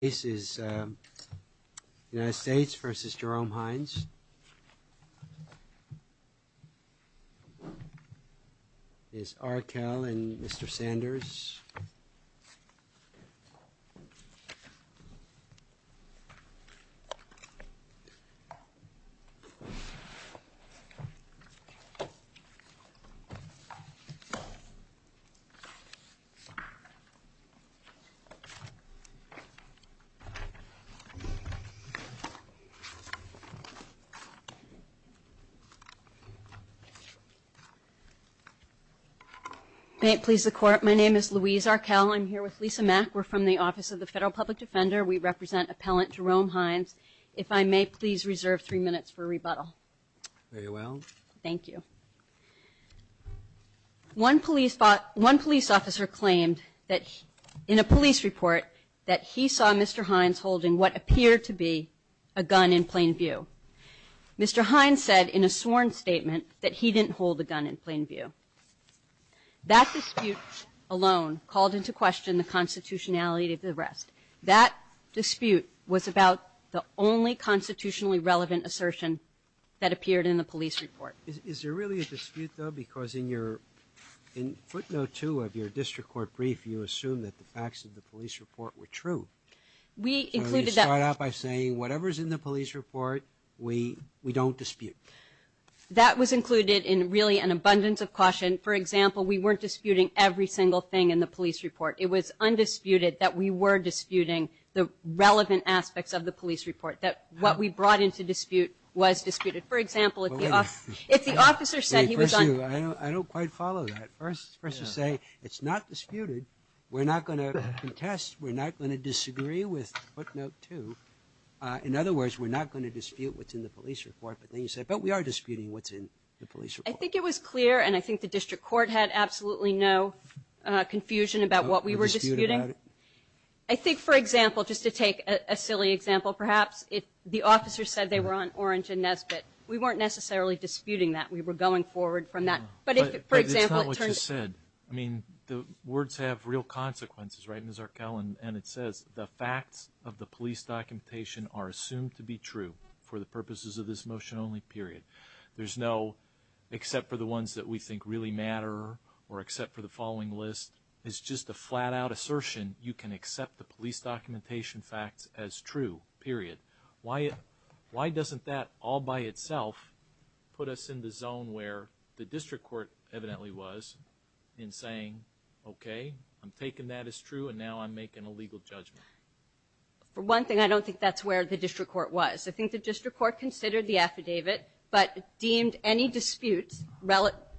This is the United States v. Jerome Hines This is Aracel and Mr. Sanders May it please the Court. My name is Louise Aracel. I'm here with Lisa Mack. We're from the Office of the Federal Public Defender. We represent Appellant Jerome Hines. If I may please reserve three minutes for rebuttal. Very well. Thank you. One police officer claimed that in a police report that he saw Mr. Hines holding what appeared to be a gun in plain view. Mr. Hines said in a sworn statement that he didn't hold the gun in plain view. That dispute alone called into question the constitutionality of the arrest. That dispute was about the only constitutionally relevant assertion that appeared in the police report. Is there really a dispute, though, because in your footnote two of your district court brief, you assume that the facts of the police report were true. We included that You start out by saying whatever is in the police report, we don't dispute. That was included in really an abundance of caution. For example, we weren't disputing every single thing in the police report. It was undisputed that we were disputing the relevant aspects of the police report, that what we brought into dispute was disputed. For example, if the officer said he was on I don't quite follow that. First you say it's not disputed. We're not going to contest. We're not going to disagree with footnote two. In other words, we're not going to dispute what's in the police report, but then you say, but we are disputing what's in the police report. I think it was clear, and I think the district court had absolutely no confusion about what we were disputing. You're disputing about it? I think, for example, just to take a silly example, perhaps, if the officer said they were on Orange and Nesbitt, we weren't necessarily disputing that. We were going forward from that. But if, for example, it turns But that's not what you said. I mean, the words have real consequences, right, Ms. Arkell? And it says, the facts of the police documentation are assumed to be true for the purposes of this motion only, period. There's no except for the ones that we think really matter or except for the following list. It's just a flat-out assertion. You can accept the police documentation facts as true, period. Why doesn't that all by itself put us in the zone where the district court evidently was in saying, okay, I'm taking that as true, and now I'm making a legal judgment? For one thing, I don't think that's where the district court was. I think the district court considered the affidavit, but deemed any disputes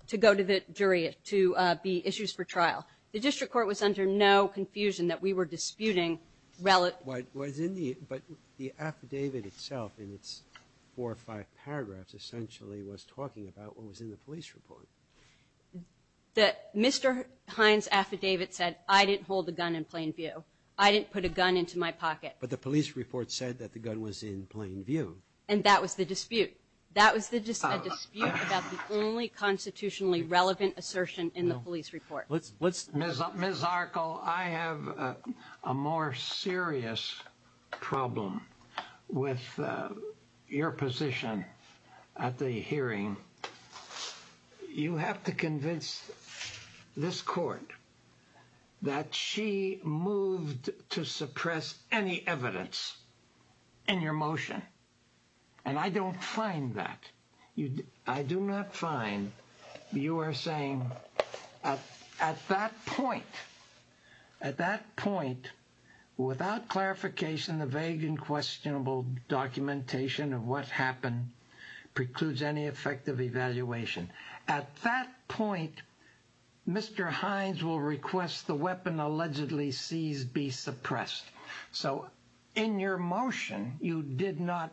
to go to the jury to be issues for trial. The district court was under no confusion that we were disputing. But the affidavit itself, in its four or five paragraphs, essentially was talking about what was in the police report. Mr. Hines' affidavit said, I didn't hold a gun in plain view. I didn't put a gun into my pocket. But the police report said that the gun was in plain view. And that was the dispute. That was the dispute about the only constitutionally relevant assertion in the police report. Ms. Arkel, I have a more serious problem with your position at the hearing. You have to convince this court that she moved to suppress any evidence in your motion. And I don't find that. I do not find you are saying at that point, at that point, without clarification, the vague and questionable documentation of what happened precludes any effective evaluation. At that point, Mr. Hines will request the weapon allegedly seized be suppressed. So in your motion, you did not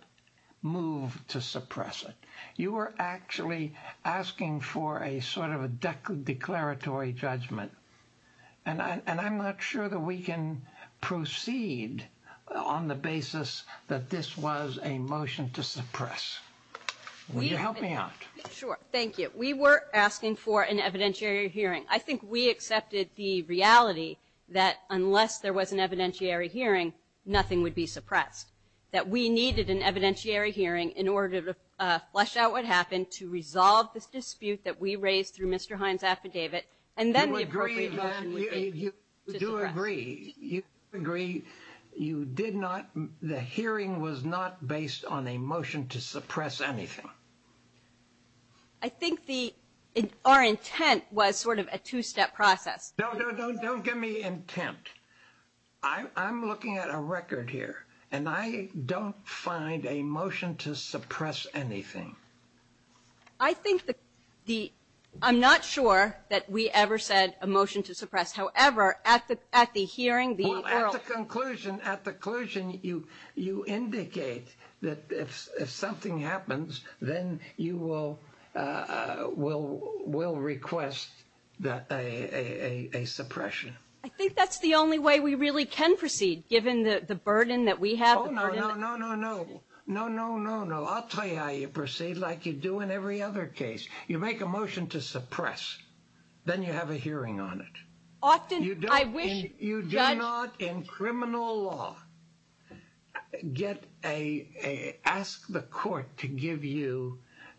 move to suppress it. You were actually asking for a sort of a declaratory judgment. And I'm not sure that we can proceed on the basis that this was a motion to suppress. Will you help me out? Sure. Thank you. We were asking for an evidentiary hearing. I think we accepted the reality that unless there was an evidentiary hearing, nothing would be suppressed. That we needed an evidentiary hearing in order to flesh out what happened, to resolve this dispute that we raised through Mr. Hines' affidavit. And then the appropriate action would be to suppress. You do agree. You agree. You did not. The hearing was not based on a motion to suppress anything. I think our intent was sort of a two-step process. No, no, no. Don't give me intent. I'm looking at a record here. And I don't find a motion to suppress anything. I think the – I'm not sure that we ever said a motion to suppress. However, at the hearing, the oral – Well, at the conclusion – at the conclusion, you indicate that if something happens, then you will request a suppression. I think that's the only way we really can proceed, given the burden that we have. Oh, no, no, no, no, no. No, no, no, no. I'll tell you how you proceed, like you do in every other case. You make a motion to suppress. Often, I wish – You do not, in criminal law, get a – ask the court to give you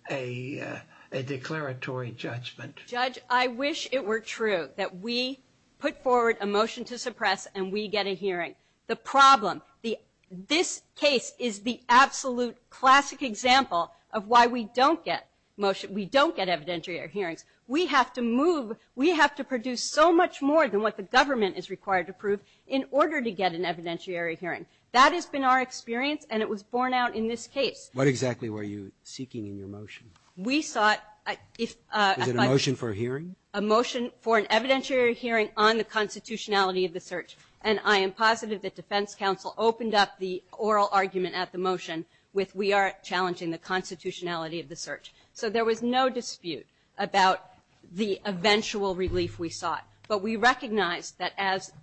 a declaratory judgment. Judge, I wish it were true that we put forward a motion to suppress and we get a hearing. The problem – this case is the absolute classic example of why we don't get motion – we don't get evidentiary hearings. We have to move – we have to produce so much more than what the government is required to prove in order to get an evidentiary hearing. That has been our experience, and it was borne out in this case. What exactly were you seeking in your motion? We sought – if – Was it a motion for a hearing? A motion for an evidentiary hearing on the constitutionality of the search. And I am positive that defense counsel opened up the oral argument at the motion with we are challenging the constitutionality of the search. So there was no dispute about the eventual relief we sought. But we recognized that as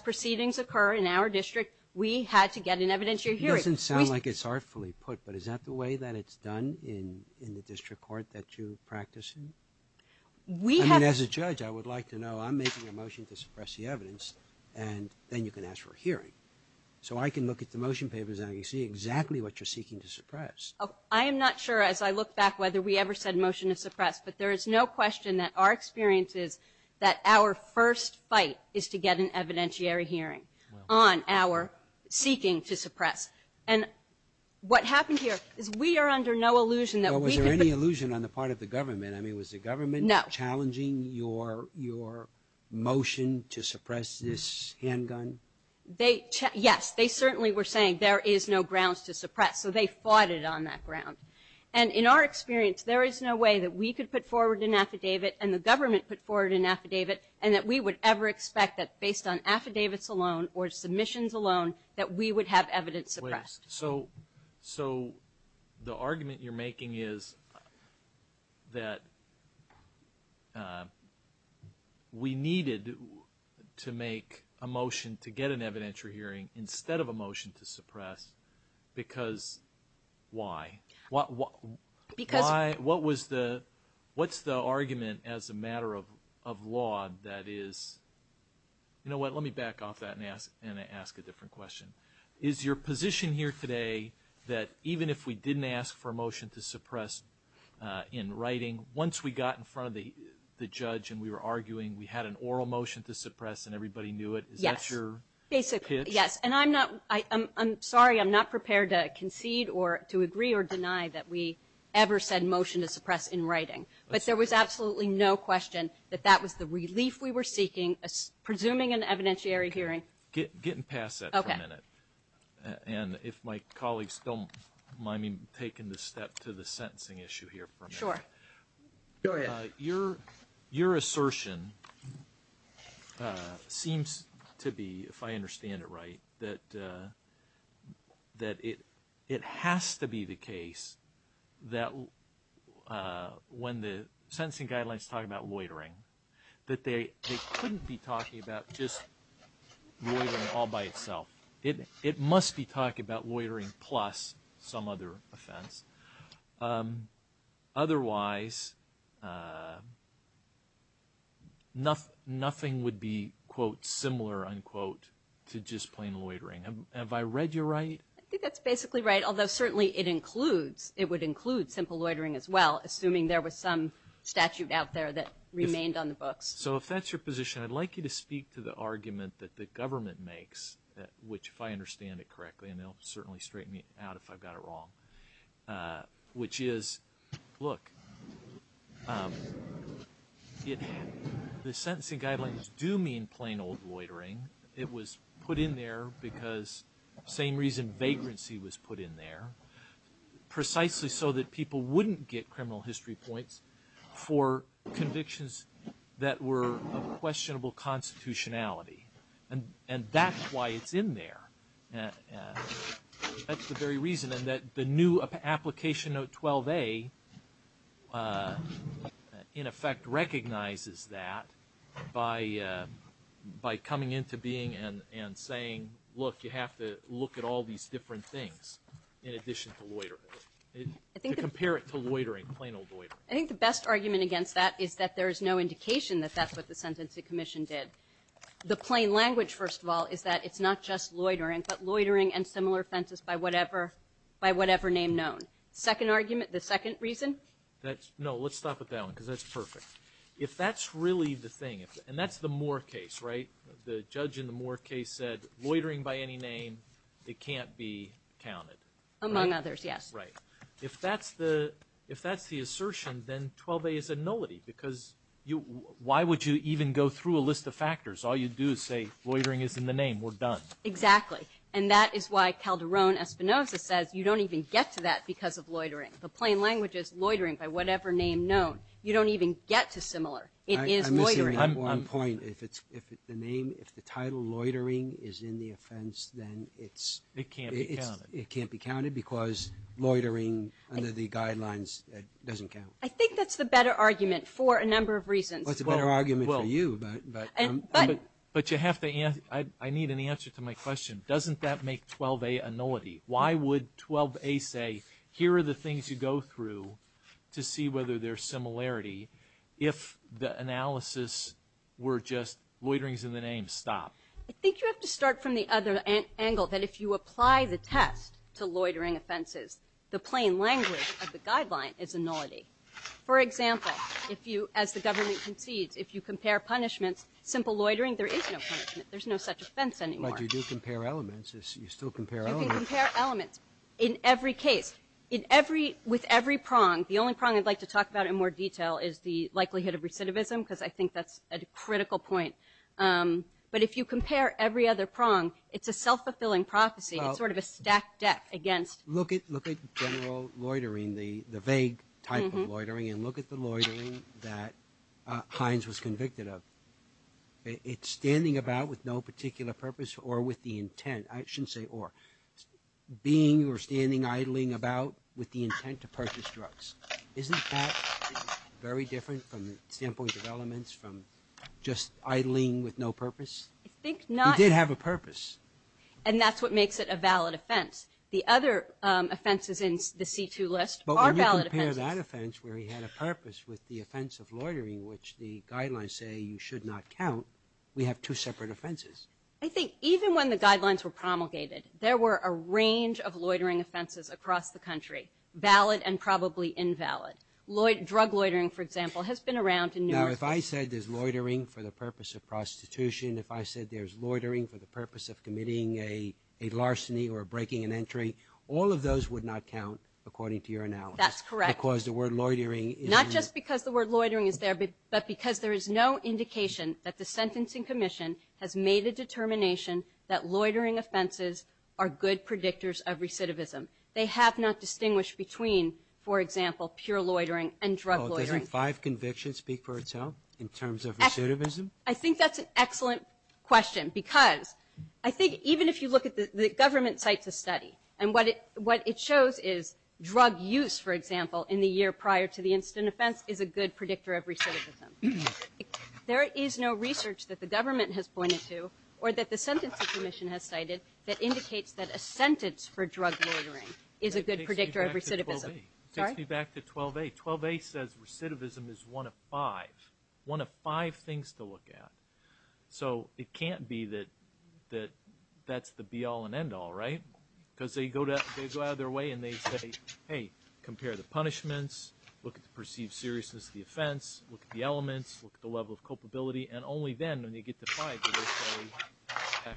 proceedings occur in our district, we had to get an evidentiary hearing. It doesn't sound like it's artfully put, but is that the way that it's done in the district court that you practice in? We have – I mean, as a judge, I would like to know. I'm making a motion to suppress the evidence, and then you can ask for a hearing. So I can look at the motion papers and I can see exactly what you're seeking to suppress. I am not sure, as I look back, whether we ever said motion to suppress. But there is no question that our experience is that our first fight is to get an evidentiary hearing on our seeking to suppress. And what happened here is we are under no illusion that we can – Well, was there any illusion on the part of the government? I mean, was the government challenging your motion to suppress this handgun? They – yes. They certainly were saying there is no grounds to suppress. So they fought it on that ground. And in our experience, there is no way that we could put forward an affidavit and the government put forward an affidavit and that we would ever expect that based on affidavits alone or submissions alone that we would have evidence suppressed. So the argument you're making is that we needed to make a motion to get an evidentiary hearing instead of a motion to suppress because why? Because – What was the – what's the argument as a matter of law that is – you know what, let me back off that and ask a different question. Is your position here today that even if we didn't ask for a motion to suppress in writing, once we got in front of the judge and we were arguing, we had an oral motion to suppress and everybody knew it? Yes. Is that your pitch? Yes, and I'm not – I'm sorry, I'm not prepared to concede or – to agree or deny that we ever said motion to suppress in writing. But there was absolutely no question that that was the relief we were seeking, presuming an evidentiary hearing. Get – get past that for a minute. Okay. And if my colleagues don't mind me taking the step to the sentencing issue here for a minute. Sure. Go ahead. Your – your assertion seems to be, if I understand it right, that it has to be the case that when the sentencing guidelines talk about loitering, that they couldn't be talking about just loitering all by itself. It must be talking about loitering plus some other offense. Otherwise, nothing would be, quote, similar, unquote, to just plain loitering. Have I read you right? I think that's basically right, although certainly it includes – it would include simple loitering as well, assuming there was some statute out there that remained on the books. So if that's your position, I'd like you to speak to the argument that the government makes, which, if I understand it correctly, and it'll certainly straighten me out if I've got it wrong, which is, look, it – the sentencing guidelines do mean plain old loitering. It was put in there because – same reason vagrancy was put in there, precisely so that people wouldn't get criminal history points for convictions that were of questionable constitutionality. And that's why it's in there. That's the very reason. And that the new application of 12A, in effect, recognizes that by coming into being and saying, look, you have to look at all these different things in addition to loitering, to compare it to loitering, plain old loitering. I think the best argument against that is that there is no indication that that's what the Sentencing Commission did. The plain language, first of all, is that it's not just loitering, but loitering and similar offenses by whatever name known. Second argument, the second reason? No, let's stop at that one because that's perfect. If that's really the thing – and that's the Moore case, right? The judge in the Moore case said loitering by any name, it can't be counted. Among others, yes. Right. If that's the assertion, then 12A is a nullity because why would you even go through a list of factors? All you do is say loitering is in the name. We're done. Exactly. And that is why Calderon Espinoza says you don't even get to that because of loitering. The plain language is loitering by whatever name known. You don't even get to similar. It is loitering. I'm missing one point. If the title loitering is in the offense, then it's – It can't be counted. It can't be counted because loitering under the guidelines doesn't count. I think that's the better argument for a number of reasons. Well, it's a better argument for you. But you have to – I need an answer to my question. Doesn't that make 12A a nullity? Why would 12A say here are the things you go through to see whether there's similarity if the analysis were just loitering is in the name, stop? I think you have to start from the other angle, that if you apply the test to loitering offenses, the plain language of the guideline is a nullity. For example, if you – as the government concedes, if you compare punishments, simple loitering, there is no punishment. There's no such offense anymore. But you do compare elements. You still compare elements. You can compare elements in every case, with every prong. The only prong I'd like to talk about in more detail is the likelihood of recidivism because I think that's a critical point. But if you compare every other prong, it's a self-fulfilling prophecy. It's sort of a stacked deck against – Look at general loitering, the vague type of loitering, and look at the loitering that Hines was convicted of. It's standing about with no particular purpose or with the intent. I shouldn't say or. Being or standing, idling about with the intent to purchase drugs. Isn't that very different from the standpoint of elements, from just idling with no purpose? I think not. He did have a purpose. And that's what makes it a valid offense. The other offenses in the C2 list are valid offenses. But when you compare that offense where he had a purpose with the offense of loitering, which the guidelines say you should not count, we have two separate offenses. I think even when the guidelines were promulgated, there were a range of loitering offenses across the country, valid and probably invalid. Drug loitering, for example, has been around in numerous cases. Now, if I said there's loitering for the purpose of prostitution, if I said there's loitering for the purpose of committing a larceny or breaking an entry, all of those would not count according to your analysis. That's correct. Because the word loitering is there. Not just because the word loitering is there, but because there is no indication that the sentencing commission has made a determination that loitering offenses are good predictors of recidivism. They have not distinguished between, for example, pure loitering and drug loitering. Doesn't five convictions speak for itself in terms of recidivism? I think that's an excellent question, because I think even if you look at the government sites of study and what it shows is drug use, for example, in the year prior to the incident offense, is a good predictor of recidivism. There is no research that the government has pointed to or that the sentencing commission has cited that indicates that a sentence for drug loitering is a good predictor of recidivism. That takes me back to 12A. 12A says recidivism is one of five. Five things to look at. So it can't be that that's the be-all and end-all, right? Because they go out of their way and they say, hey, compare the punishments, look at the perceived seriousness of the offense, look at the elements, look at the level of culpability, and only then, when they get to five, do they say,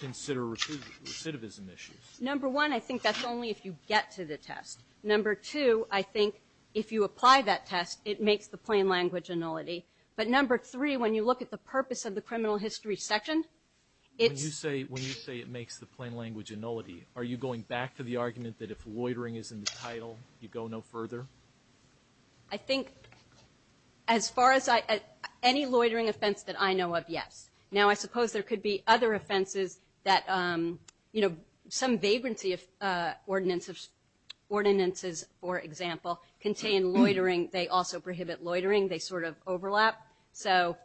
consider recidivism issues. Number one, I think that's only if you get to the test. Number two, I think if you apply that test, it makes the plain language annulity. But number three, when you look at the purpose of the criminal history section, it's – When you say it makes the plain language annulity, are you going back to the argument that if loitering is in the title, you go no further? I think as far as I – any loitering offense that I know of, yes. Now, I suppose there could be other offenses that, you know, some vagrancy of ordinances, for example, contain loitering. I think they also prohibit loitering. They sort of overlap. So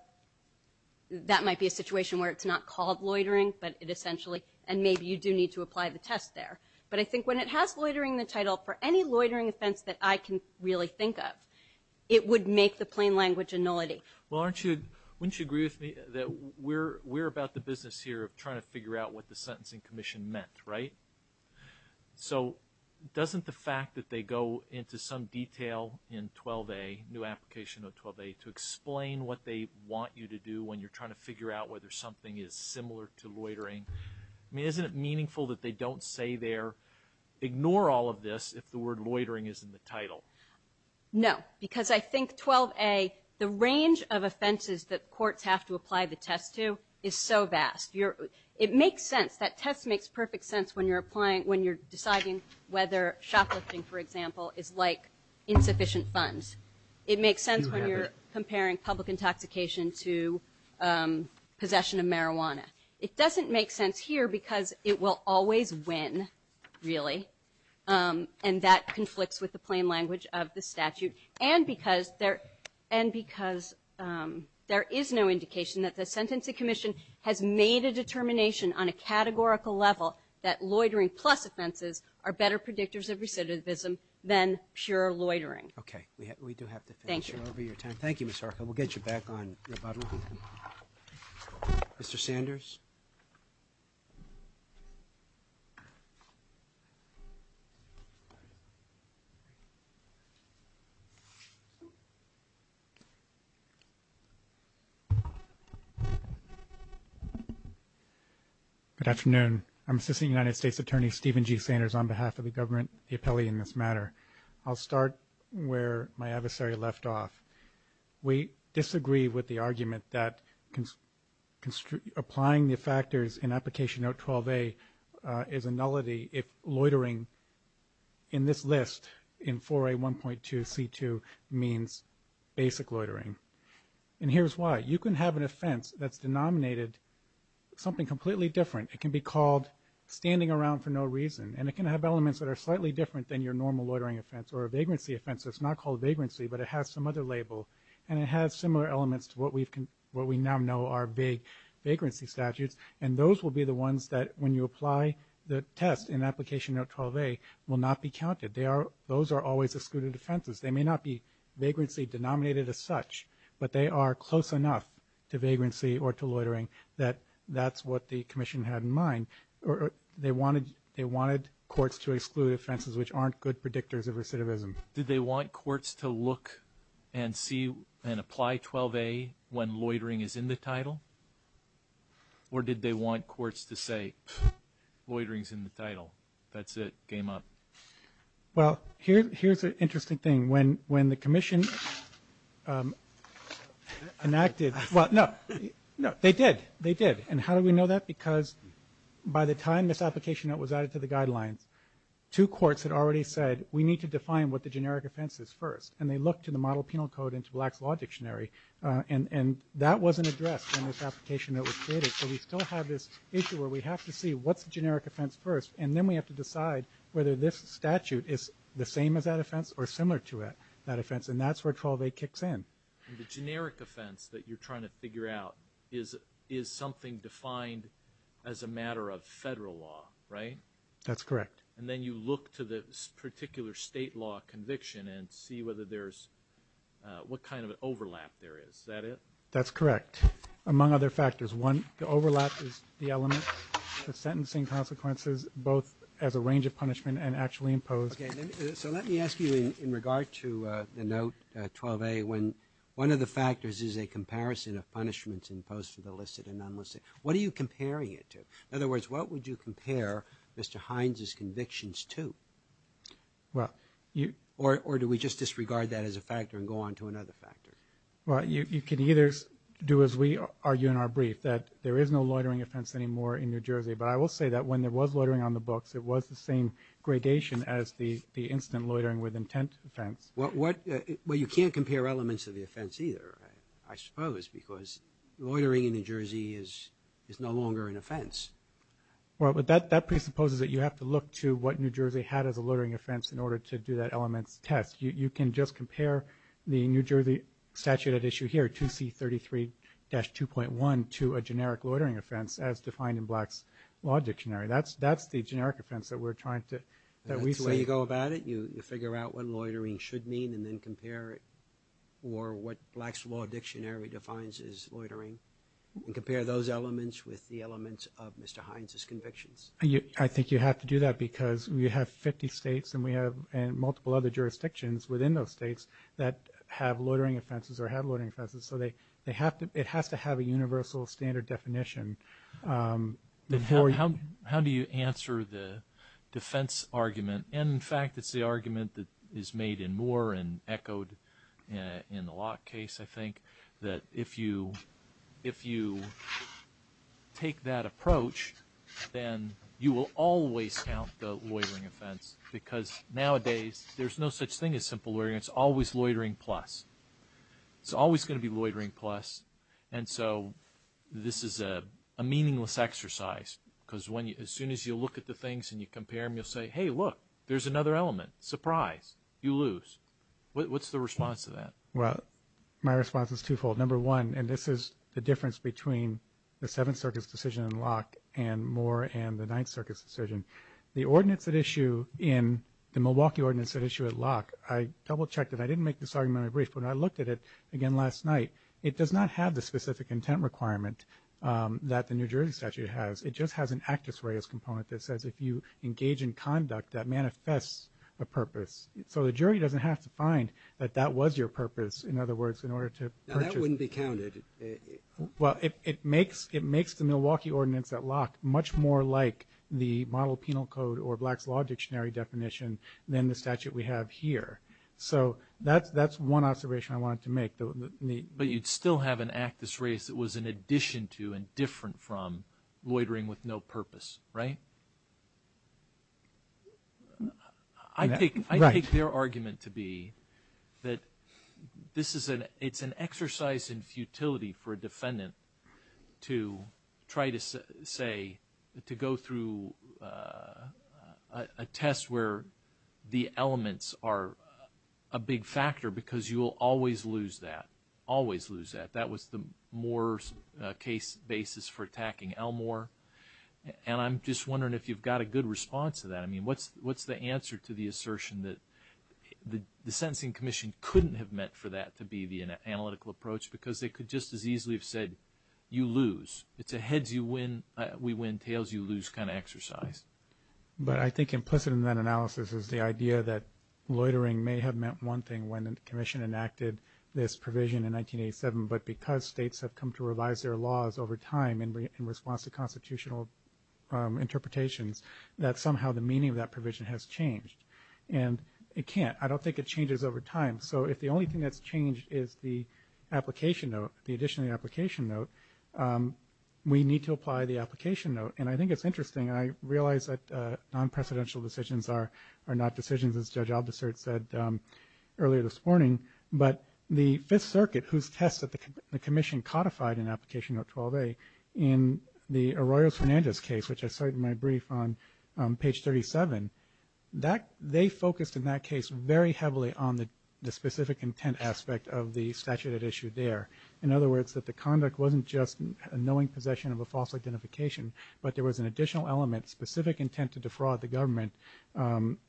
that might be a situation where it's not called loitering, but it essentially – and maybe you do need to apply the test there. But I think when it has loitering in the title, for any loitering offense that I can really think of, it would make the plain language annulity. Well, aren't you – wouldn't you agree with me that we're about the business here of trying to figure out what the Sentencing Commission meant, right? So doesn't the fact that they go into some detail in 12a, new application of 12a, to explain what they want you to do when you're trying to figure out whether something is similar to loitering – I mean, isn't it meaningful that they don't say there, ignore all of this if the word loitering is in the title? No, because I think 12a, the range of offenses that courts have to apply the test to is so vast. It makes sense. That test makes perfect sense when you're applying – when you're deciding whether shoplifting, for example, is like insufficient funds. It makes sense when you're comparing public intoxication to possession of marijuana. It doesn't make sense here because it will always win, really, and that conflicts with the plain language of the statute, and because there is no indication that the Sentencing Commission has made a determination on a categorical level that loitering plus offenses are better predictors of recidivism than pure loitering. Okay. We do have to finish. Thank you. Thank you, Ms. Harkin. We'll get you back on rebuttal. Mr. Sanders? Good afternoon. I'm Assistant United States Attorney Stephen G. Sanders on behalf of the government, the appellee in this matter. I'll start where my adversary left off. We disagree with the argument that applying the factors in Application Note 12a is a nullity if loitering in this list, in 4A1.2C2, means basic loitering. And here's why. You can have an offense that's denominated something completely different. It can be called standing around for no reason, and it can have elements that are slightly different than your normal loitering offense or a vagrancy offense that's not called vagrancy but it has some other label, and it has similar elements to what we now know are vagrancy statutes, and those will be the ones that, when you apply the test in Application Note 12a, will not be counted. Those are always excluded offenses. They may not be vagrancy denominated as such, but they are close enough to vagrancy or to loitering that that's what the Commission had in mind. They wanted courts to exclude offenses which aren't good predictors of recidivism. Did they want courts to look and see and apply 12a when loitering is in the title, or did they want courts to say, pfft, loitering's in the title, that's it, game up? Well, here's an interesting thing. When the Commission enacted – well, no, they did. They did. And how do we know that? Because by the time this Application Note was added to the guidelines, two courts had already said, we need to define what the generic offense is first, and they looked to the Model Penal Code and to Black's Law Dictionary, and that wasn't addressed in this Application Note that was created, so we still have this issue where we have to see what's the generic offense first, and then we have to decide whether this statute is the same as that offense or similar to that offense, and that's where 12a kicks in. The generic offense that you're trying to figure out is something defined as a matter of federal law, right? That's correct. And then you look to the particular state law conviction and see what kind of an overlap there is. Is that it? That's correct, among other factors. One, the overlap is the element, the sentencing consequences, both as a range of punishment and actually imposed. Okay. So let me ask you in regard to the Note 12a, when one of the factors is a comparison of punishments imposed for the illicit and non-illicit, what are you comparing it to? In other words, what would you compare Mr. Hines' convictions to? Or do we just disregard that as a factor and go on to another factor? Well, you can either do as we argue in our brief, that there is no loitering offense anymore in New Jersey, but I will say that when there was loitering on the books, it was the same gradation as the instant loitering with intent offense. Well, you can't compare elements of the offense either, I suppose, because loitering in New Jersey is no longer an offense. Well, that presupposes that you have to look to what New Jersey had as a loitering offense in order to do that elements test. You can just compare the New Jersey statute at issue here, 2C33-2.1, to a generic loitering offense as defined in Black's Law Dictionary. That's the generic offense that we're trying to say. That's the way you go about it. You figure out what loitering should mean and then compare it or what Black's Law Dictionary defines as loitering and compare those elements with the elements of Mr. Hines' convictions. I think you have to do that because we have 50 states and we have multiple other jurisdictions within those states that have loitering offenses or have loitering offenses, so it has to have a universal standard definition. How do you answer the defense argument? In fact, it's the argument that is made in Moore and echoed in the Locke case, I think, that if you take that approach, then you will always count the loitering offense because nowadays there's no such thing as simple loitering. It's always loitering plus. It's always going to be loitering plus, and so this is a meaningless exercise because as soon as you look at the things and you compare them, you'll say, hey, look, there's another element. Surprise, you lose. What's the response to that? Well, my response is twofold. Number one, and this is the difference between the Seventh Circus decision in Locke and Moore and the Ninth Circus decision. The ordinance at issue in the Milwaukee ordinance at issue at Locke, I double-checked it. I didn't make this argument in my brief, but when I looked at it again last night, it does not have the specific intent requirement that the New Jersey statute has. It just has an actus reus component that says if you engage in conduct, that manifests a purpose. So the jury doesn't have to find that that was your purpose. In other words, in order to purchase. Now, that wouldn't be counted. Well, it makes the Milwaukee ordinance at Locke much more like the model penal code or Black's Law Dictionary definition than the statute we have here. So that's one observation I wanted to make. But you'd still have an actus reus that was in addition to and different from loitering with no purpose, right? I take their argument to be that this is an exercise in futility for a defendant to try to say, to go through a test where the elements are a big factor because you will always lose that, always lose that. That was the Moore's case basis for attacking Elmore. And I'm just wondering if you've got a good response to that. I mean, what's the answer to the assertion that the sentencing commission couldn't have meant for that to be the analytical approach because they could just as easily have said, you lose. It's a heads you win, we win, tails you lose kind of exercise. But I think implicit in that analysis is the idea that loitering may have meant one thing when the commission enacted this provision in 1987, but because states have come to revise their laws over time in response to constitutional interpretations, that somehow the meaning of that provision has changed. And it can't. I don't think it changes over time. So if the only thing that's changed is the application note, the addition of the application note, we need to apply the application note. And I think it's interesting. I realize that non-precedential decisions are not decisions, as Judge Aldersert said earlier this morning. But the Fifth Circuit, whose test that the commission codified in application note 12A, in the Arroyos-Fernandez case, which I cited in my brief on page 37, they focused in that case very heavily on the specific intent aspect of the statute at issue there. In other words, that the conduct wasn't just a knowing possession of a false identification, but there was an additional element, specific intent to defraud the government,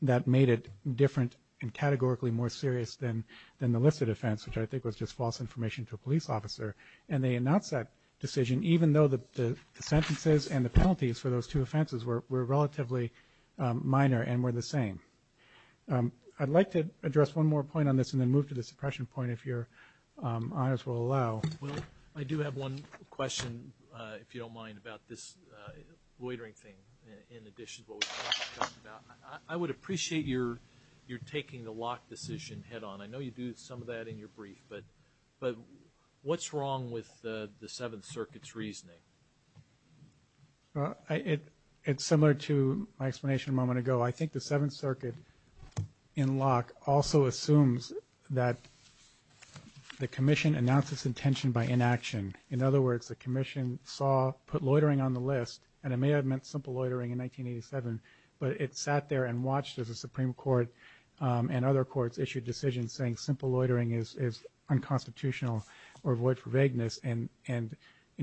that made it different and categorically more serious than the listed offense, which I think was just false information to a police officer. And they announced that decision, even though the sentences and the penalties for those two offenses were relatively minor and were the same. I'd like to address one more point on this and then move to the suppression point, if your honors will allow. Well, I do have one question, if you don't mind, about this loitering thing, in addition to what we've talked about. I would appreciate your taking the Locke decision head-on. I know you do some of that in your brief. But what's wrong with the Seventh Circuit's reasoning? It's similar to my explanation a moment ago. I think the Seventh Circuit in Locke also assumes that the commission announced its intention by inaction. In other words, the commission put loitering on the list, and it may have meant simple loitering in 1987, but it sat there and watched as the Supreme Court and other courts issued decisions saying simple loitering is unconstitutional or void for vagueness and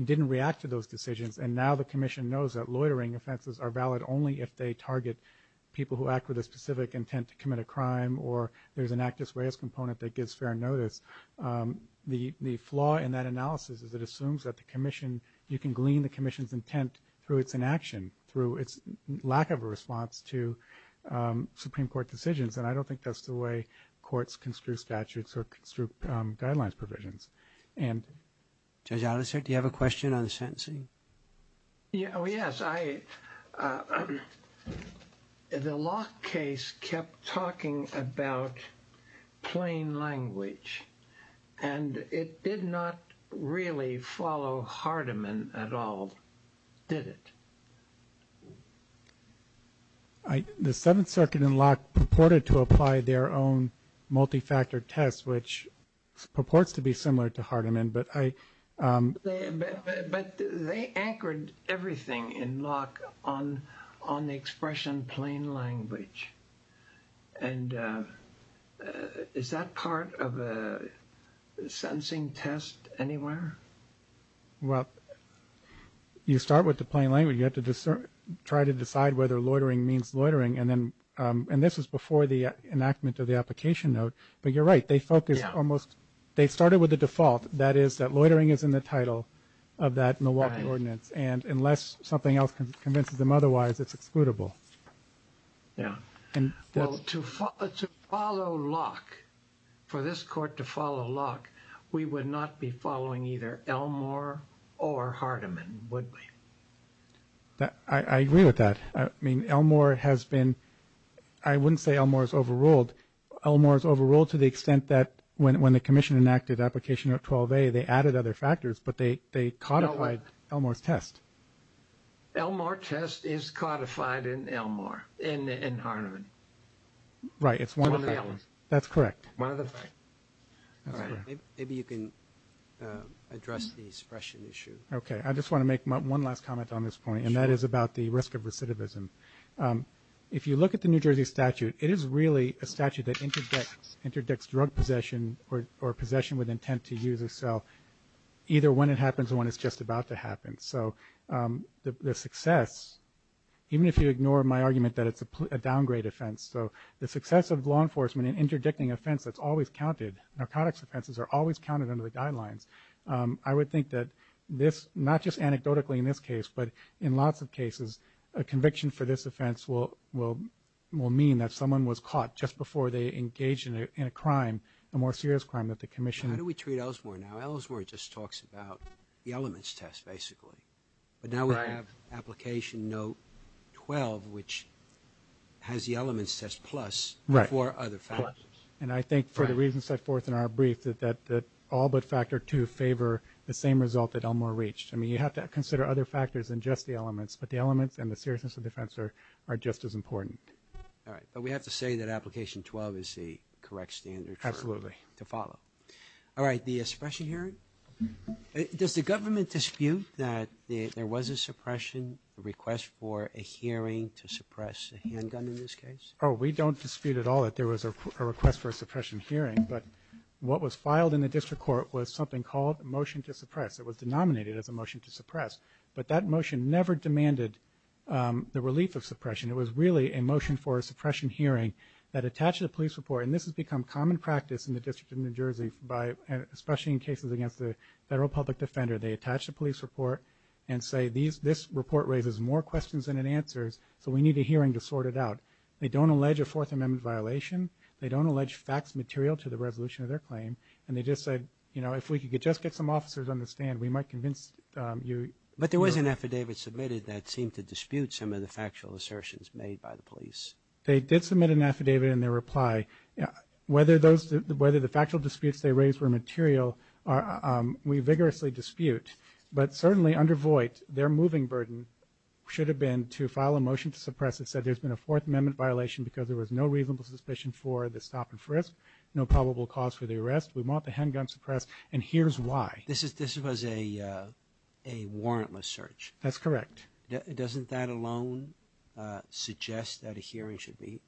didn't react to those decisions. And now the commission knows that loitering offenses are valid only if they target people who act with a specific intent to commit a crime or there's an actus reus component that gives fair notice. The flaw in that analysis is it assumes that the commission, you can glean the commission's intent through its inaction, through its lack of a response to Supreme Court decisions, and I don't think that's the way courts construe statutes or construe guidelines provisions. Judge Alicert, do you have a question on the sentencing? Oh, yes. The Locke case kept talking about plain language, and it did not really follow Hardiman at all, did it? The Seventh Circuit in Locke purported to apply their own multifactor test, which purports to be similar to Hardiman, but I — But they anchored everything in Locke on the expression plain language, and is that part of a sentencing test anywhere? Well, you start with the plain language. You have to try to decide whether loitering means loitering, and this was before the enactment of the application note. But you're right. They focused almost — they started with the default, that is that loitering is in the title of that Milwaukee ordinance, and unless something else convinces them otherwise, it's excludable. Yeah. Well, to follow Locke, for this court to follow Locke, we would not be following either Elmore or Hardiman, would we? I agree with that. I mean, Elmore has been — I wouldn't say Elmore is overruled. Elmore is overruled to the extent that when the commission enacted application note 12a, they added other factors, but they codified Elmore's test. Elmore test is codified in Elmore, in Hardiman. Right. It's one of the others. That's correct. One of the five. Maybe you can address the suppression issue. Okay. I just want to make one last comment on this point, and that is about the risk of recidivism. If you look at the New Jersey statute, it is really a statute that interdicts drug possession or possession with intent to use or sell, either when it happens or when it's just about to happen. So the success, even if you ignore my argument that it's a downgrade offense, so the success of law enforcement in interdicting offense that's always counted, narcotics offenses are always counted under the guidelines, I would think that this, not just anecdotally in this case, but in lots of cases a conviction for this offense will mean that someone was caught just before they engaged in a crime, a more serious crime that the commission — How do we treat Elmore now? Elmore just talks about the elements test, basically. But now we have application note 12, which has the elements test plus four other factors. And I think for the reasons set forth in our brief, that all but factor two favor the same result that Elmore reached. I mean, you have to consider other factors than just the elements, but the elements and the seriousness of defense are just as important. All right. Absolutely. All right. The suppression hearing? Does the government dispute that there was a suppression, a request for a hearing to suppress a handgun in this case? Oh, we don't dispute at all that there was a request for a suppression hearing, but what was filed in the district court was something called a motion to suppress. It was denominated as a motion to suppress, but that motion never demanded the relief of suppression. It was really a motion for a suppression hearing that attached to the police report, and this has become common practice in the District of New Jersey, especially in cases against the federal public defender. They attach the police report and say this report raises more questions than it answers, so we need a hearing to sort it out. They don't allege a Fourth Amendment violation. They don't allege facts material to the resolution of their claim. And they just said, you know, if we could just get some officers on the stand, we might convince you. But there was an affidavit submitted that seemed to dispute some of the factual assertions made by the police. They did submit an affidavit in their reply. Whether the factual disputes they raised were material, we vigorously dispute. But certainly under Voight, their moving burden should have been to file a motion to suppress that said there's been a Fourth Amendment violation because there was no reasonable suspicion for the stop and frisk, no probable cause for the arrest. We want the handgun suppressed, and here's why. This was a warrantless search. That's correct. Doesn't that alone suggest that a hearing should be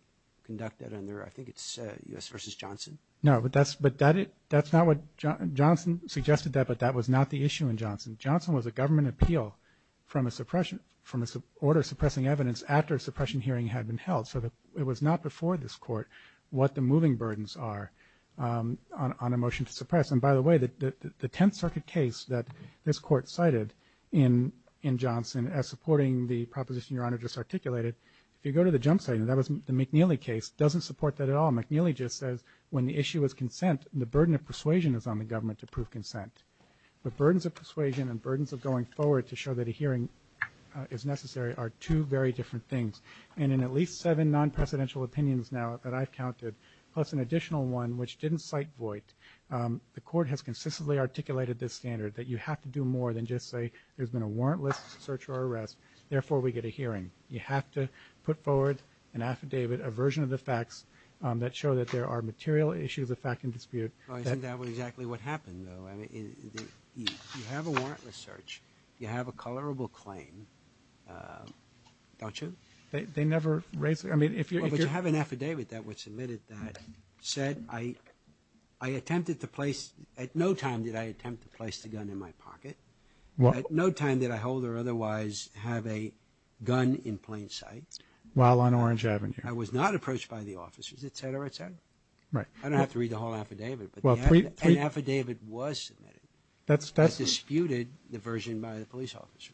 conducted under, I think it's U.S. v. Johnson? No, but that's not what Johnson suggested, but that was not the issue in Johnson. Johnson was a government appeal from an order suppressing evidence after a suppression hearing had been held. So it was not before this Court what the moving burdens are on a motion to suppress. And by the way, the Tenth Circuit case that this Court cited in Johnson as supporting the proposition Your Honor just articulated, if you go to the jump site, and that was the McNeely case, doesn't support that at all. McNeely just says when the issue is consent, the burden of persuasion is on the government to prove consent. The burdens of persuasion and burdens of going forward to show that a hearing is necessary are two very different things. And in at least seven non-presidential opinions now that I've counted, plus an additional one which didn't cite Voight, the Court has consistently articulated this standard, that you have to do more than just say there's been a warrantless search or arrest, therefore we get a hearing. You have to put forward an affidavit, a version of the facts, that show that there are material issues of fact and dispute. Well, isn't that exactly what happened, though? I mean, you have a warrantless search, you have a colorable claim, don't you? They never raised it. Well, but you have an affidavit that was submitted that said I attempted to place – at no time did I attempt to place the gun in my pocket. At no time did I hold or otherwise have a gun in plain sight. While on Orange Avenue. I was not approached by the officers, et cetera, et cetera. Right. I don't have to read the whole affidavit, but an affidavit was submitted that disputed the version by the police officer.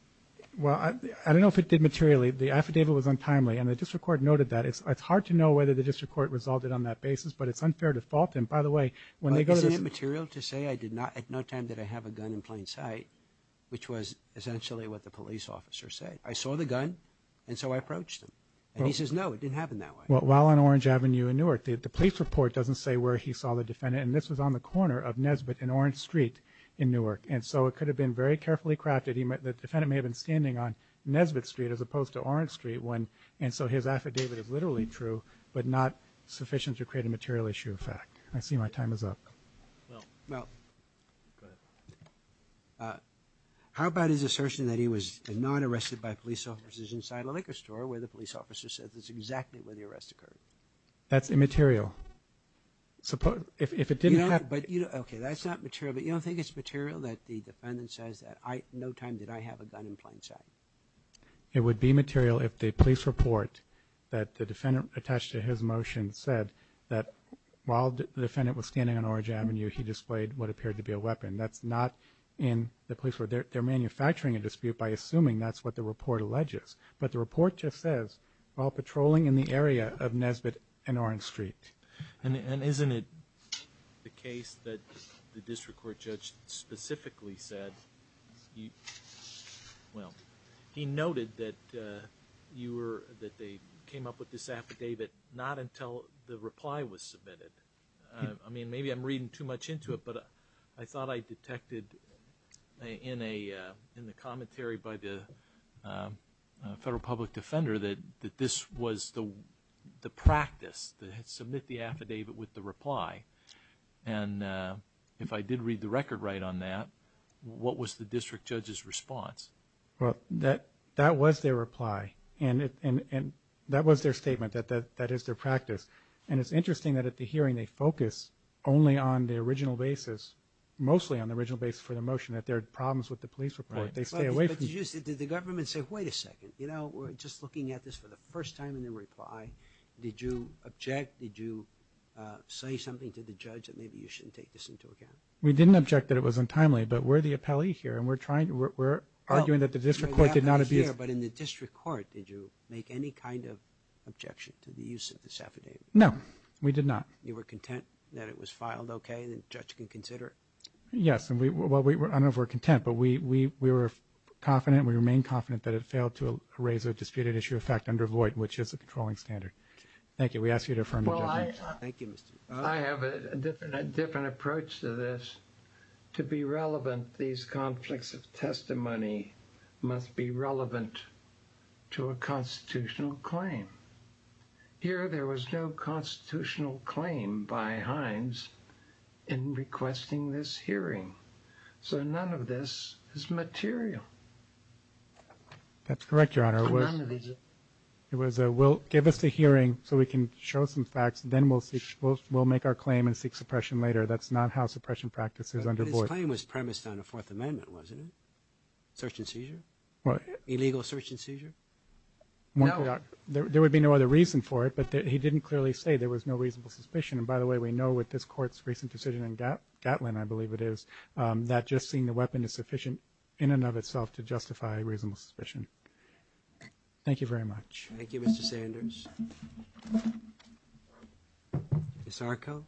Well, I don't know if it did materially. The affidavit was untimely, and the district court noted that. It's hard to know whether the district court resolved it on that basis, but it's unfair to fault them. By the way, when they go to the – But isn't it material to say at no time did I have a gun in plain sight, which was essentially what the police officer said? I saw the gun, and so I approached them. And he says, no, it didn't happen that way. Well, while on Orange Avenue in Newark, the police report doesn't say where he saw the defendant, and this was on the corner of Nesbitt and Orange Street in Newark, and so it could have been very carefully crafted. The defendant may have been standing on Nesbitt Street as opposed to Orange Street, and so his affidavit is literally true, but not sufficient to create a material issue of fact. I see my time is up. Well, go ahead. How about his assertion that he was non-arrested by police officers inside a liquor store where the police officer said that's exactly where the arrest occurred? If it didn't happen – Okay, that's not material, but you don't think it's material that the defendant says, no time did I have a gun in plain sight? It would be material if the police report that the defendant attached to his motion said that while the defendant was standing on Orange Avenue, he displayed what appeared to be a weapon. That's not in the police report. They're manufacturing a dispute by assuming that's what the report alleges. But the report just says, while patrolling in the area of Nesbitt and Orange Street. And isn't it the case that the district court judge specifically said, well, he noted that they came up with this affidavit not until the reply was submitted. I mean, maybe I'm reading too much into it, but I thought I detected in the commentary by the federal public defender that this was the practice to submit the affidavit with the reply. And if I did read the record right on that, what was the district judge's response? Well, that was their reply. And that was their statement, that that is their practice. And it's interesting that at the hearing they focus only on the original basis, mostly on the original basis for the motion, that there are problems with the police report. They stay away from it. But did the government say, wait a second, you know, we're just looking at this for the first time in the reply. Did you object? Did you say something to the judge that maybe you shouldn't take this into account? We didn't object that it was untimely, but we're the appellee here, and we're arguing that the district court did not abuse. But in the district court, did you make any kind of objection to the use of this affidavit? No, we did not. You were content that it was filed okay and the judge can consider it? Yes. Well, I don't know if we're content, but we were confident, we remain confident that it failed to raise a disputed issue of fact under void, which is a controlling standard. Thank you. We ask you to affirm the judgment. Thank you, Mr. I have a different approach to this. To be relevant, these conflicts of testimony must be relevant to a constitutional claim. Here there was no constitutional claim by Hines in requesting this hearing. So none of this is material. That's correct, Your Honor. It was a, well, give us the hearing so we can show some facts, and then we'll make our claim and seek suppression later. That's not how suppression practice is under void. But his claim was premised on a Fourth Amendment, wasn't it? Search and seizure? What? Illegal search and seizure? No. There would be no other reason for it, but he didn't clearly say there was no reasonable suspicion. And, by the way, we know with this Court's recent decision in Gatlin, I believe it is, that just seeing the weapon is sufficient in and of itself to justify reasonable suspicion. Thank you very much. Thank you, Mr. Sanders. Ms. Arko?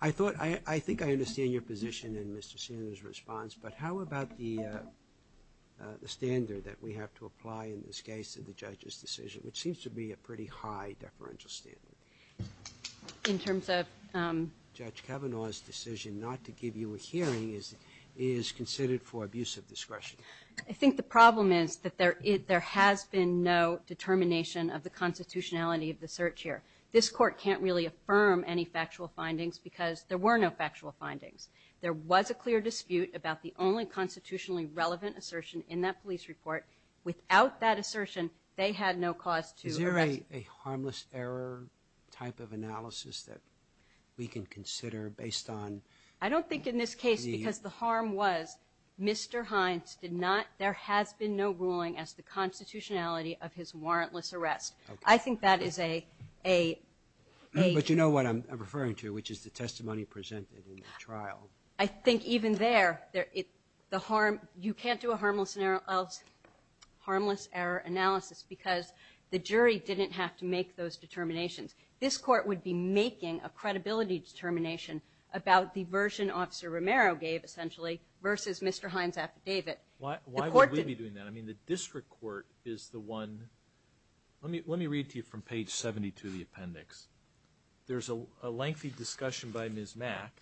I think I understand your position in Mr. Sanders' response, but how about the standard that we have to apply in this case to the judge's decision, which seems to be a pretty high deferential standard? In terms of? Judge Kavanaugh's decision not to give you a hearing is considered for abusive discretion. I think the problem is that there has been no determination of the constitutionality of the search here. This Court can't really affirm any factual findings because there were no factual findings. There was a clear dispute about the only constitutionally relevant assertion in that police report. Without that assertion, they had no cause to arrest. Is there a harmless error type of analysis that we can consider based on? I don't think in this case, because the harm was Mr. Hines did not, there has been no ruling as to the constitutionality of his warrantless arrest. I think that is a, a, a. But you know what I'm referring to, which is the testimony presented in the trial. I think even there, the harm, you can't do a harmless error analysis because the jury didn't have to make those determinations. This Court would be making a credibility determination about the version Officer Romero gave essentially versus Mr. Hines' affidavit. Why would we be doing that? I mean, the district court is the one, let me read to you from page 72 of the appendix. There's a lengthy discussion by Ms. Mack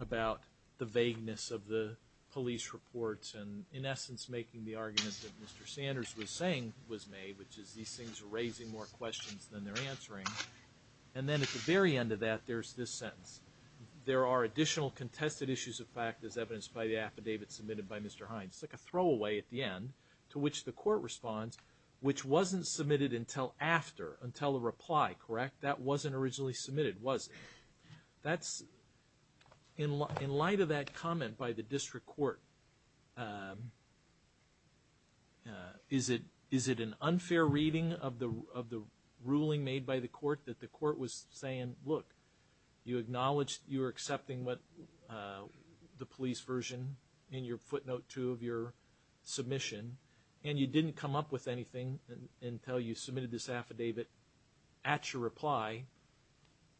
about the vagueness of the police reports and in essence making the argument that Mr. Sanders was saying was made, which is these things are raising more questions than they're answering. And then at the very end of that, there's this sentence. There are additional contested issues of fact as evidenced by the affidavit submitted by Mr. Hines. It's like a throwaway at the end to which the court responds, which wasn't submitted until after, until the reply, correct? That wasn't originally submitted, was it? In light of that comment by the district court, is it an unfair reading of the ruling made by the court that the court was saying, look, you acknowledged you were accepting the police version in your footnote 2 of your submission and you didn't come up with anything until you submitted this affidavit at your reply,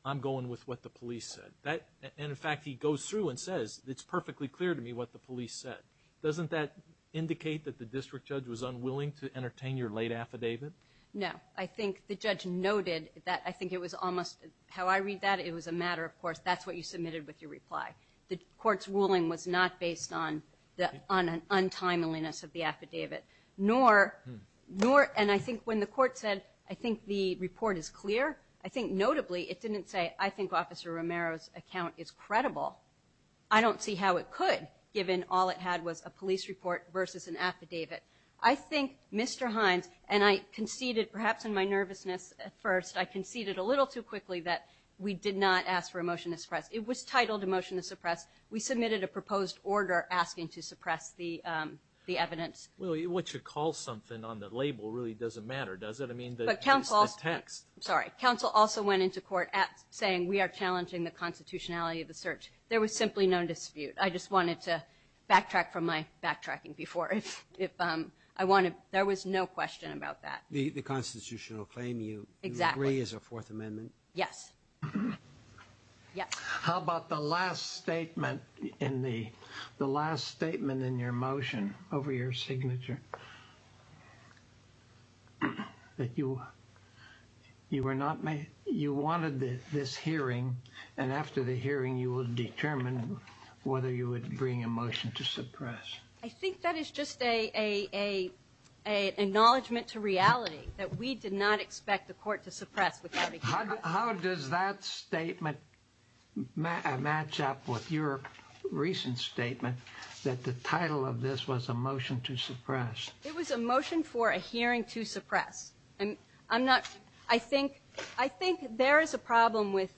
I'm going with what the police said. And in fact, he goes through and says, it's perfectly clear to me what the police said. Doesn't that indicate that the district judge was unwilling to entertain your late affidavit? No. I think the judge noted that I think it was almost, how I read that, it was a matter of course, that's what you submitted with your reply. The court's ruling was not based on the untimeliness of the affidavit. Nor, and I think when the court said, I think the report is clear, I think notably it didn't say, I think Officer Romero's account is credible. I don't see how it could, given all it had was a police report versus an affidavit. I think Mr. Hines, and I conceded, perhaps in my nervousness at first, I conceded a little too quickly that we did not ask for a motion to suppress. It was titled a motion to suppress. We submitted a proposed order asking to suppress the evidence. Well, what you call something on the label really doesn't matter, does it? I mean, the text. I'm sorry. Counsel also went into court saying we are challenging the constitutionality of the search. There was simply no dispute. I just wanted to backtrack from my backtracking before. There was no question about that. The constitutional claim you agree is a Fourth Amendment? Yes. Yes. How about the last statement in the last statement in your motion over your signature? That you were not made, you wanted this hearing, and after the hearing you will determine whether you would bring a motion to suppress. I think that is just an acknowledgment to reality that we did not expect the court to suppress without a hearing. How does that statement match up with your recent statement that the title of this was a motion to suppress? It was a motion for a hearing to suppress. I think there is a problem with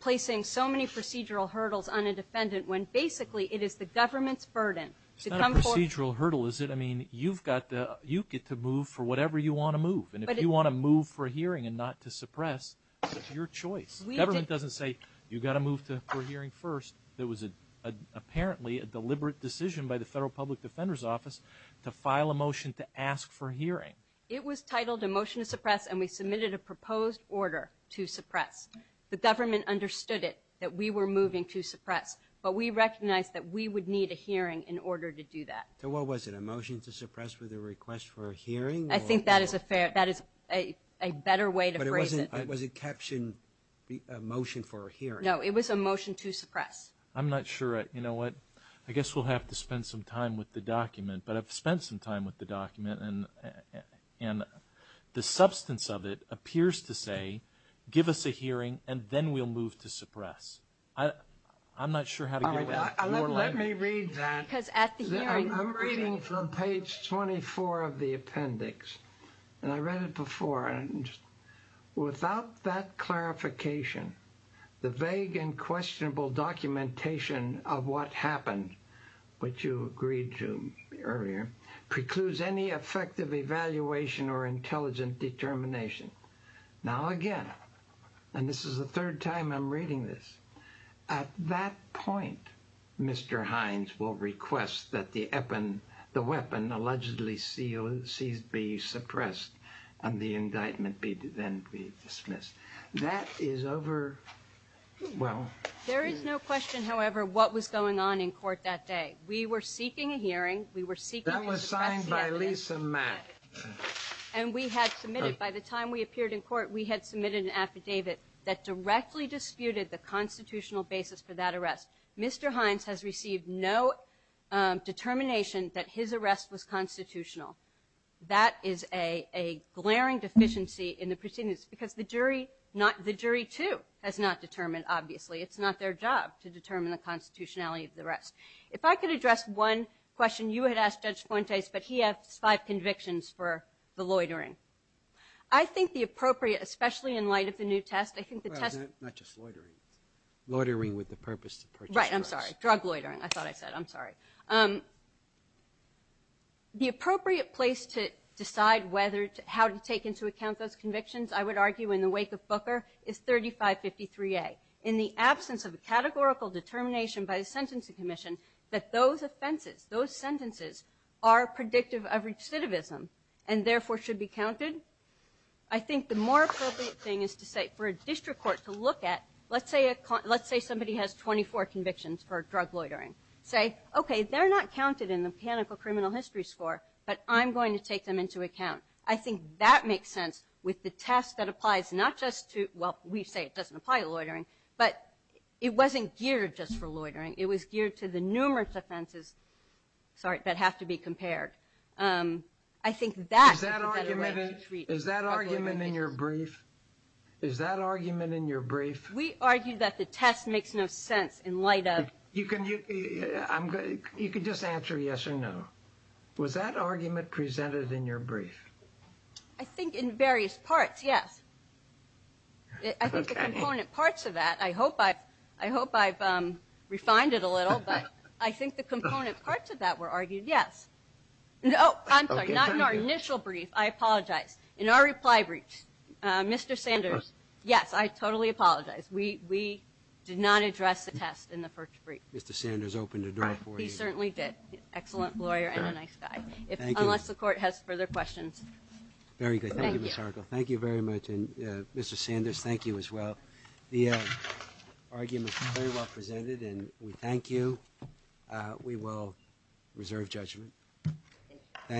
placing so many procedural hurdles on a defendant when basically it is the government's burden to come forth. It's not a procedural hurdle, is it? If you want to move for a hearing and not to suppress, it's your choice. The government doesn't say you've got to move for a hearing first. There was apparently a deliberate decision by the Federal Public Defender's Office to file a motion to ask for a hearing. It was titled a motion to suppress, and we submitted a proposed order to suppress. The government understood it, that we were moving to suppress, but we recognized that we would need a hearing in order to do that. I think that is a better way to phrase it. But was it captioned a motion for a hearing? No, it was a motion to suppress. I'm not sure. You know what? I guess we'll have to spend some time with the document, but I've spent some time with the document, and the substance of it appears to say give us a hearing, and then we'll move to suppress. I'm not sure how to get with that. Let me read that. I'm reading from page 24 of the appendix, and I read it before. Without that clarification, the vague and questionable documentation of what happened, which you agreed to earlier, precludes any effective evaluation or intelligent determination. Now again, and this is the third time I'm reading this, at that point Mr. Hines will request that the weapon allegedly seized be suppressed and the indictment then be dismissed. That is over. There is no question, however, what was going on in court that day. We were seeking a hearing. That was signed by Lisa Mack. And we had submitted, by the time we appeared in court, we had submitted an affidavit that directly disputed the constitutional basis for that arrest. Mr. Hines has received no determination that his arrest was constitutional. That is a glaring deficiency in the proceedings because the jury too has not determined, obviously. It's not their job to determine the constitutionality of the arrest. If I could address one question you had asked Judge Fuentes, but he has five convictions for the loitering. I think the appropriate, especially in light of the new test, I think the test Well, not just loitering. Loitering with the purpose to purchase drugs. Right, I'm sorry. Drug loitering, I thought I said. I'm sorry. The appropriate place to decide how to take into account those convictions, I would argue in the wake of Booker, is 3553A. In the absence of a categorical determination by the Sentencing Commission that those offenses, those sentences are predictive of recidivism and therefore should be counted. I think the more appropriate thing is to say for a district court to look at, let's say somebody has 24 convictions for drug loitering. Say, okay, they're not counted in the mechanical criminal history score, but I'm going to take them into account. I think that makes sense with the test that applies not just to, well, we say it doesn't apply to loitering, but it wasn't geared just for loitering. It was geared to the numerous offenses that have to be compared. Is that argument in your brief? Is that argument in your brief? We argue that the test makes no sense in light of. You can just answer yes or no. Was that argument presented in your brief? I think in various parts, yes. I think the component parts of that, I hope I've refined it a little, but I think the component parts of that were argued, yes. Oh, I'm sorry. Not in our initial brief. I apologize. In our reply brief, Mr. Sanders, yes, I totally apologize. We did not address the test in the first brief. Mr. Sanders opened the door for you. He certainly did. Excellent lawyer and a nice guy. Unless the Court has further questions. Very good. Thank you, Ms. Hargill. Thank you very much. And, Mr. Sanders, thank you as well. The argument was very well presented, and we thank you. We will reserve judgment. Thank you.